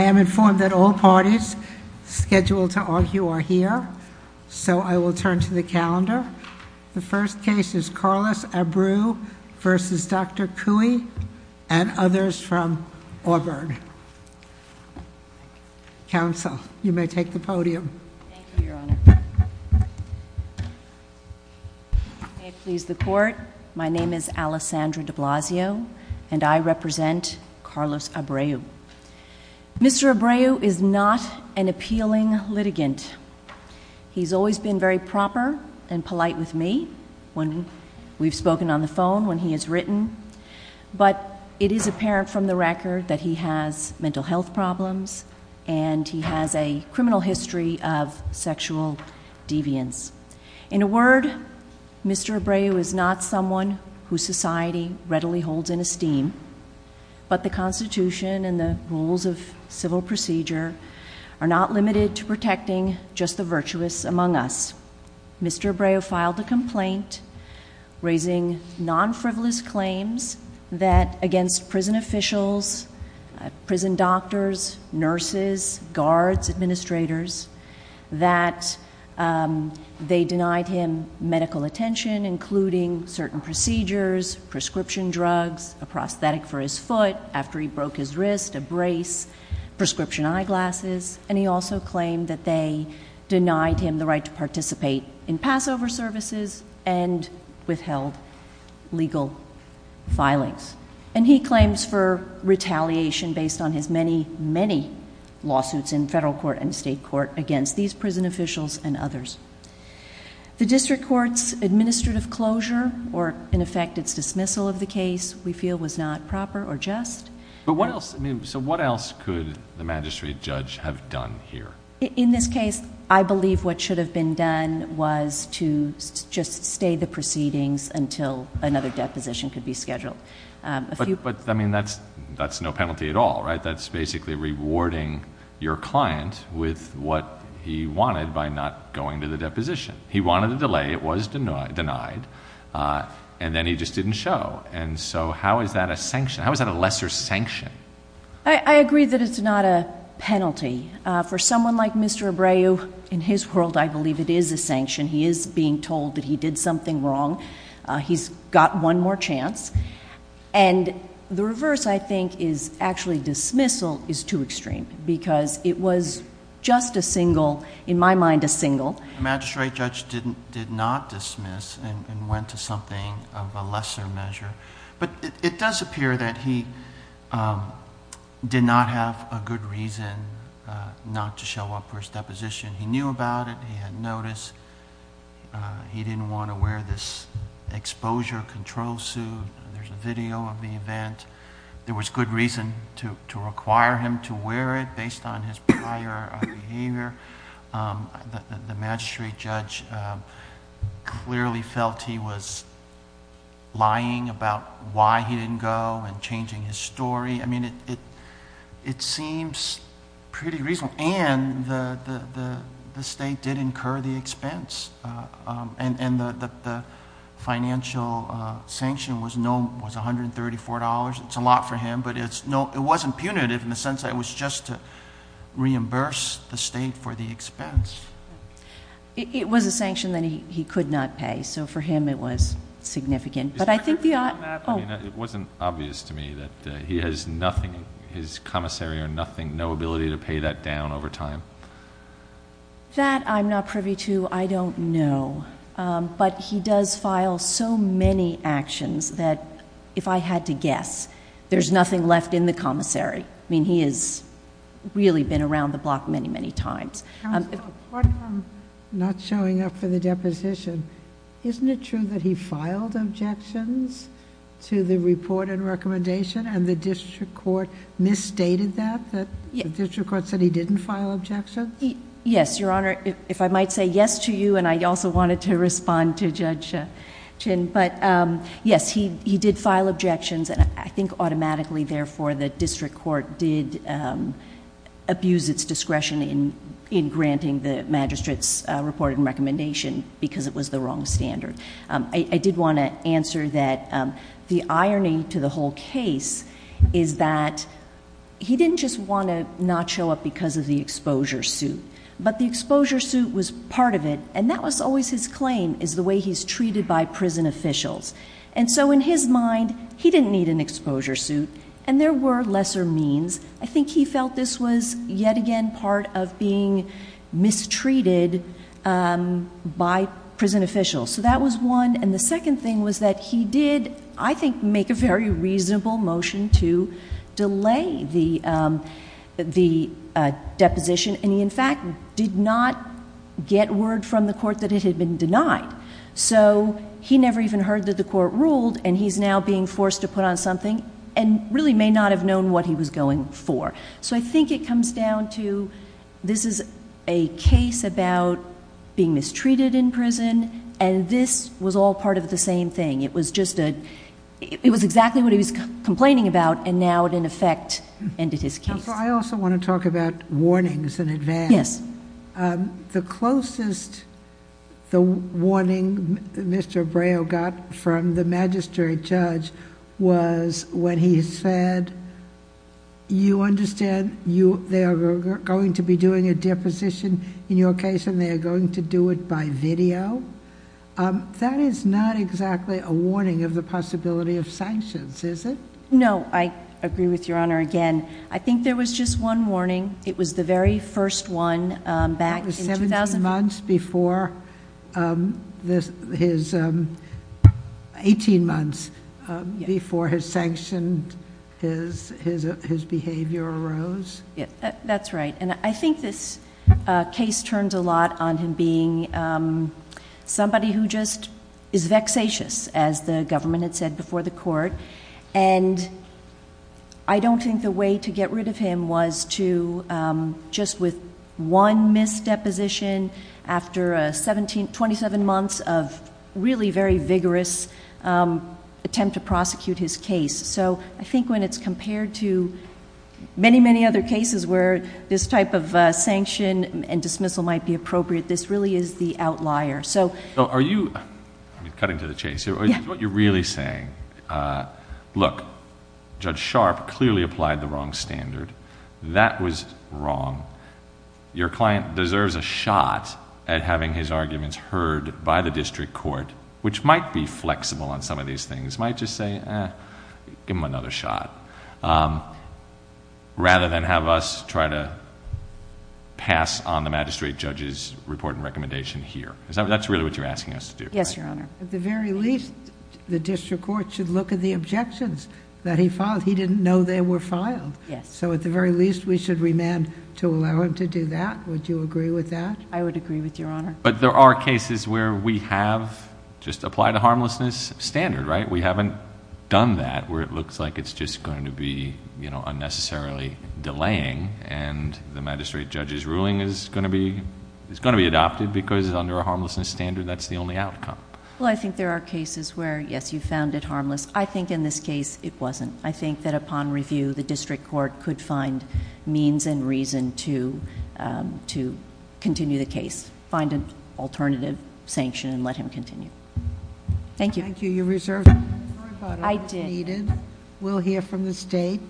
I am informed that all parties scheduled to argue are here, so I will turn to the calendar. The first case is Carlos Abreu v. Dr. Kooi, and others from Auburn. Counsel, you may take the podium. Thank you, Your Honor. May it please the court, my name is Alessandra de Blasio, and I represent Carlos Abreu. Mr. Abreu is not an appealing litigant. He's always been very proper and polite with me when we've spoken on the phone, when he has written. But it is apparent from the record that he has mental health problems and he has a criminal history of sexual deviance. In a word, Mr. Abreu is not someone whose society readily holds in esteem, but the Constitution and the rules of civil procedure are not limited to protecting just the virtuous among us. Mr. Abreu filed a complaint raising non-frivolous claims that against prison officials, prison doctors, nurses, guards, administrators, that they denied him medical attention including certain procedures, prescription drugs, a prosthetic for his foot after he broke his wrist, a brace, prescription eyeglasses. And he also claimed that they denied him the right to participate in Passover services and withheld legal filings. And he claims for retaliation based on his many, many lawsuits in federal court and state court against these prison officials and others. The district court's administrative closure, or in effect its dismissal of the case, we feel was not proper or just. But what else, I mean, so what else could the magistrate judge have done here? In this case, I believe what should have been done was to just stay the proceedings until another deposition could be scheduled. A few- But, I mean, that's no penalty at all, right? That's basically rewarding your client with what he wanted by not going to the deposition. He wanted a delay, it was denied, and then he just didn't show. And so how is that a sanction? How is that a lesser sanction? I agree that it's not a penalty. For someone like Mr. Abreu, in his world, I believe it is a sanction. He is being told that he did something wrong. He's got one more chance. And the reverse, I think, is actually dismissal is too extreme because it was just a single, in my mind, a single. The magistrate judge did not dismiss and went to something of a lesser measure. But it does appear that he did not have a good reason not to show up for his deposition. He knew about it, he had notice. He didn't want to wear this exposure control suit. There's a video of the event. There was good reason to require him to wear it based on his prior behavior. The magistrate judge clearly felt he was lying about why he didn't go and changing his story. I mean, it seems pretty reasonable. And the state did incur the expense. And the financial sanction was $134. It's a lot for him, but it wasn't punitive in the sense that it was just to reimburse the state for the expense. It was a sanction that he could not pay, so for him it was significant. But I think the- It wasn't obvious to me that he has nothing, his commissary or nothing, no ability to pay that down over time. That I'm not privy to, I don't know. But he does file so many actions that if I had to guess, there's nothing left in the commissary. I mean, he has really been around the block many, many times. Counsel, pardon I'm not showing up for the deposition. Isn't it true that he filed objections to the report and recommendation and the district court misstated that, that the district court said he didn't file objections? Yes, Your Honor. If I might say yes to you, and I also wanted to respond to Judge Chin. But yes, he did file objections, and I think automatically, therefore, the district court did abuse its discretion in granting the magistrate's reported recommendation because it was the wrong standard. I did want to answer that the irony to the whole case is that he didn't just want to not show up because of the exposure suit. But the exposure suit was part of it, and that was always his claim, is the way he's treated by prison officials. And so in his mind, he didn't need an exposure suit, and there were lesser means. I think he felt this was, yet again, part of being mistreated by prison officials. So that was one, and the second thing was that he did, I think, make a very reasonable motion to delay the deposition. And he, in fact, did not get word from the court that it had been denied. So he never even heard that the court ruled, and he's now being forced to put on something, and really may not have known what he was going for. So I think it comes down to, this is a case about being mistreated in prison, and this was all part of the same thing. It was just a, it was exactly what he was complaining about, and now it, in effect, ended his case. I also want to talk about warnings in advance. Yes. The closest the warning Mr. Bray got from the magistrate judge was when he said, you understand they are going to be doing a deposition in your case, and they are going to do it by video? That is not exactly a warning of the possibility of sanctions, is it? No, I agree with your honor again. I think there was just one warning. It was the very first one back in 2000. That was 17 months before his, 18 months before his sanctioned, his behavior arose? Yeah, that's right. And I think this case turns a lot on him being somebody who just is vexatious, as the government had said before the court. And I don't think the way to get rid of him was to just with one mis-deposition after 27 months of really very vigorous attempt to prosecute his case. So I think when it's compared to many, many other cases where this type of sanction and dismissal might be appropriate, this really is the outlier, so. So are you, cutting to the chase here, is what you're really saying, look, Judge Sharp clearly applied the wrong standard. That was wrong. Your client deserves a shot at having his arguments heard by the district court, which might be flexible on some of these things, might just say, give him another shot. Rather than have us try to pass on the magistrate judge's report and recommendation here. That's really what you're asking us to do. Yes, Your Honor. At the very least, the district court should look at the objections that he filed. He didn't know they were filed. Yes. So at the very least, we should remand to allow him to do that. Would you agree with that? I would agree with Your Honor. But there are cases where we have just applied a harmlessness standard, right? We haven't done that, where it looks like it's just going to be unnecessarily delaying and the magistrate judge's ruling is going to be adopted because it's under a harmlessness standard, that's the only outcome. Well, I think there are cases where, yes, you found it harmless. I think in this case, it wasn't. I think that upon review, the district court could find means and reason to continue the case. Find an alternative sanction and let him continue. Thank you. Thank you. You reserved. I did. We'll hear from the state.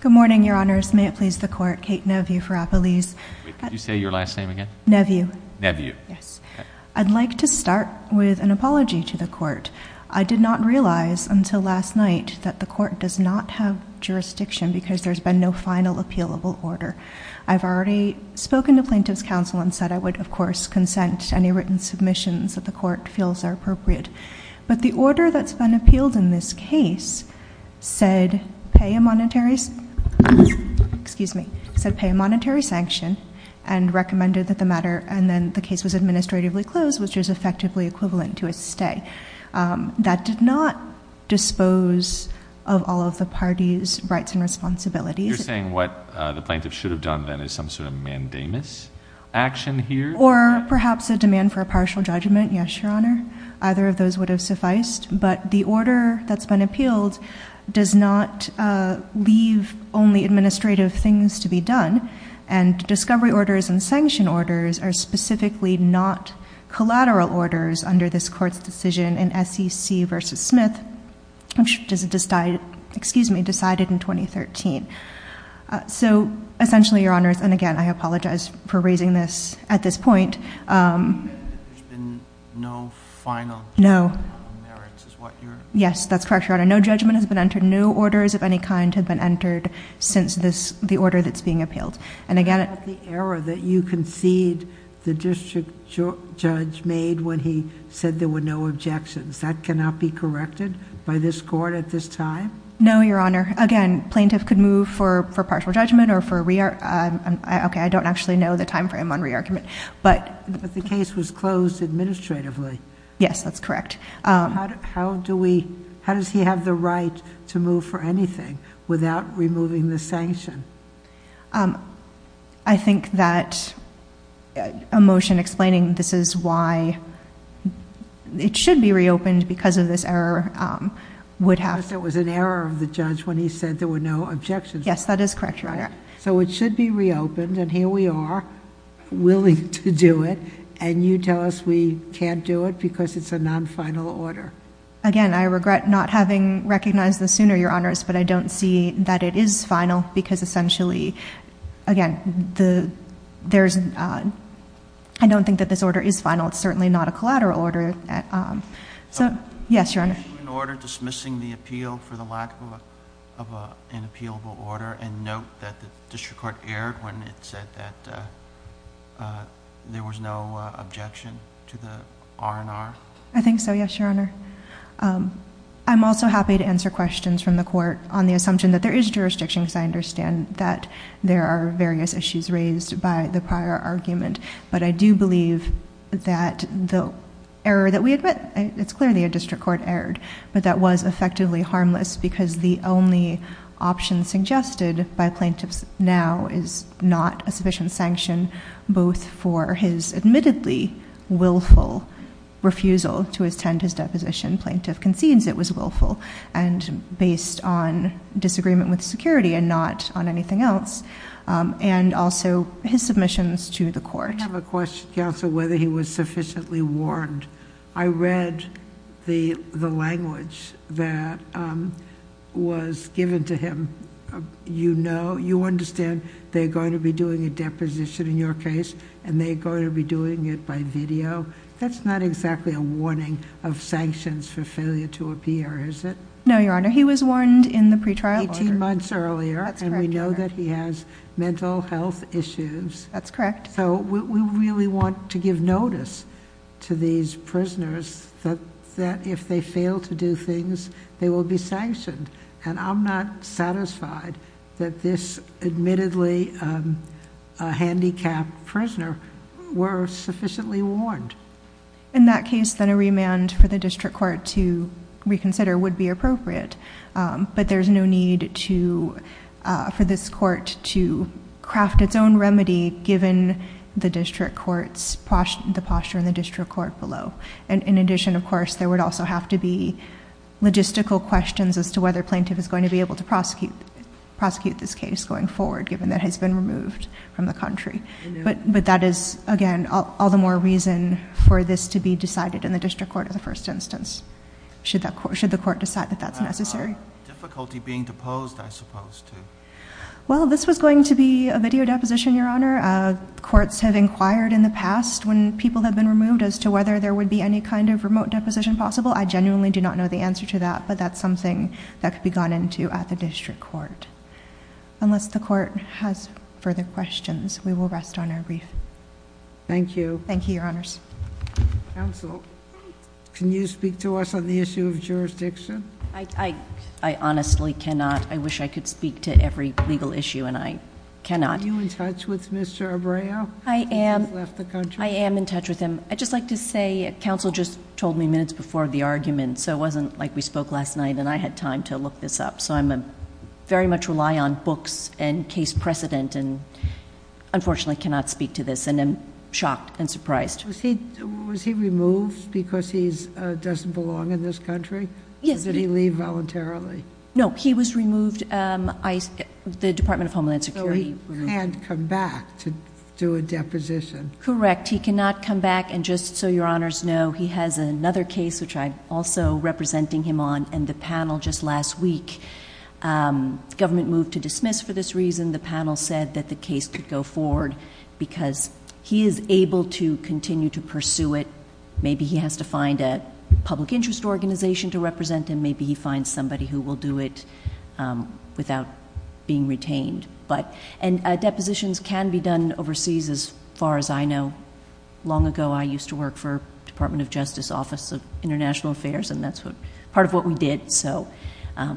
Good morning, Your Honors. May it please the court. Kate Nevue for Appalese. Could you say your last name again? Nevue. Nevue. Yes. I'd like to start with an apology to the court. I did not realize until last night that the court does not have jurisdiction because there's been no final appealable order. I've already spoken to plaintiff's counsel and said I would, of course, consent to any written submissions that the court feels are appropriate. But the order that's been appealed in this case said pay a monetary excuse me, said pay a monetary sanction and recommended that the matter and then the case was administratively closed, which is effectively equivalent to a stay. That did not dispose of all of the party's rights and responsibilities. You're saying what the plaintiff should have done then is some sort of mandamus action here? Or perhaps a demand for a partial judgment. Yes, Your Honor. Either of those would have sufficed. But the order that's been appealed does not leave only administrative things to be done. And discovery orders and sanction orders are specifically not collateral orders under this court's decision in SEC versus Smith, which is decided, excuse me, decided in 2013. So essentially, Your Honors, and again, I apologize for raising this at this point. There's been no final judgment on merits is what you're saying? Yes, that's correct, Your Honor. No judgment has been entered. No orders of any kind have been entered since the order that's being appealed. And again, What about the error that you concede the district judge made when he said there were no objections? That cannot be corrected by this court at this time? No, Your Honor. Again, plaintiff could move for partial judgment or for re-argument. Okay, I don't actually know the time frame on re-argument. But the case was closed administratively. Yes, that's correct. How does he have the right to move for anything without removing the sanction? I think that a motion explaining this is why it should be reopened because of this error would have... Because there was an error of the judge when he said there were no objections. Yes, that is correct, Your Honor. So it should be reopened, and here we are. Willing to do it. And you tell us we can't do it because it's a non-final order. Again, I regret not having recognized this sooner, Your Honors, but I don't see that it is final because essentially, again, I don't think that this order is final. It's certainly not a collateral order. So, yes, Your Honor. Can you issue an order dismissing the appeal for the lack of an appealable order and note that the district court erred when it said that there was no objection to the R&R? I think so, yes, Your Honor. I'm also happy to answer questions from the court on the assumption that there is jurisdiction because I understand that there are various issues raised by the prior argument, but I do believe that the error that we admit, it's clear that a district court erred, but that was effectively harmless because the only option suggested by plaintiffs now is not a sufficient sanction both for his admittedly willful refusal to attend his deposition. Plaintiff concedes it was willful and based on disagreement with security and not on anything else, and also his submissions to the court. I have a question, counsel, whether he was sufficiently warned. I read the language that was given to him. You understand they're going to be doing a deposition in your case and they're going to be doing it by video. That's not exactly a warning of sanctions for failure to appear, is it? No, Your Honor. He was warned in the pretrial order. Eighteen months earlier. That's correct, Your Honor. We know that he has mental health issues. That's correct. We really want to give notice to these prisoners that if they fail to do things, they will be sanctioned. I'm not satisfied that this admittedly handicapped prisoner were sufficiently warned. In that case, then a remand for the district court to reconsider would be appropriate, but there's no need for this court to craft its own remedy, given the district court's posture in the district court below. In addition, of course, there would also have to be logistical questions as to whether plaintiff is going to be able to prosecute this case going forward, given that it has been removed from the country. But that is, again, all the more reason for this to be decided in the district court in the first instance, should the court decide that that's necessary. Difficulty being deposed, I suppose, too. Well, this was going to be a video deposition, Your Honor. Courts have inquired in the past when people have been removed as to whether there would be any kind of remote deposition possible. I genuinely do not know the answer to that, but that's something that could be gone into at the district court. Unless the court has further questions, we will rest on our brief. Thank you. Thank you, Your Honors. Counsel, can you speak to us on the issue of jurisdiction? I honestly cannot. I wish I could speak to every legal issue, and I cannot. Are you in touch with Mr. Abreu? I am. I am in touch with him. I'd just like to say, counsel just told me minutes before the argument, so it wasn't like we spoke last night, and I had time to look this up. So I very much rely on books and case precedent, and unfortunately cannot speak to this, and I'm shocked and surprised. Was he removed because he doesn't belong in this country? Yes. Did he leave voluntarily? No, he was removed. The Department of Homeland Security removed him. So he can't come back to do a deposition? Correct. He cannot come back, and just so Your Honors know, he has another case which I'm also representing him on, and the panel just last week, the government moved to dismiss for this reason. The panel said that the case could go forward because he is able to continue to pursue it. Maybe he has to find a public interest organization to represent him. Maybe he finds somebody who will do it without being retained. Depositions can be done overseas, as far as I know. Long ago, I used to work for Department of Justice Office of International Affairs, and that's part of what we did. So it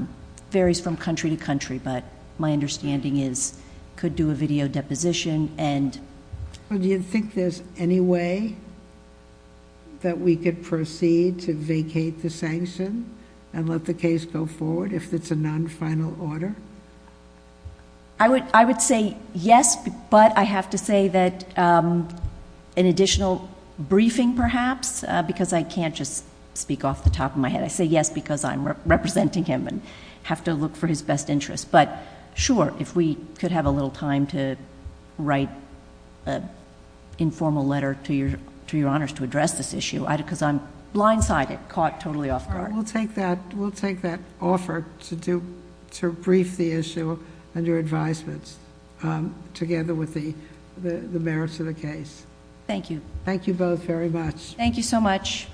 varies from country to country, but my understanding is could do a video deposition. Do you think there's any way that we could proceed to vacate the sanction and let the case go forward if it's a non-final order? I would say yes, but I have to say that an additional briefing, perhaps, because I can't just speak off the top of my head. I say yes because I'm representing him and have to look for his best interest. But sure, if we could have a little time to write an informal letter to Your Honors to address this issue, because I'm blindsided, caught totally off guard. We'll take that offer to brief the issue under advisements, together with the merits of the case. Thank you. Thank you both very much. Thank you so much.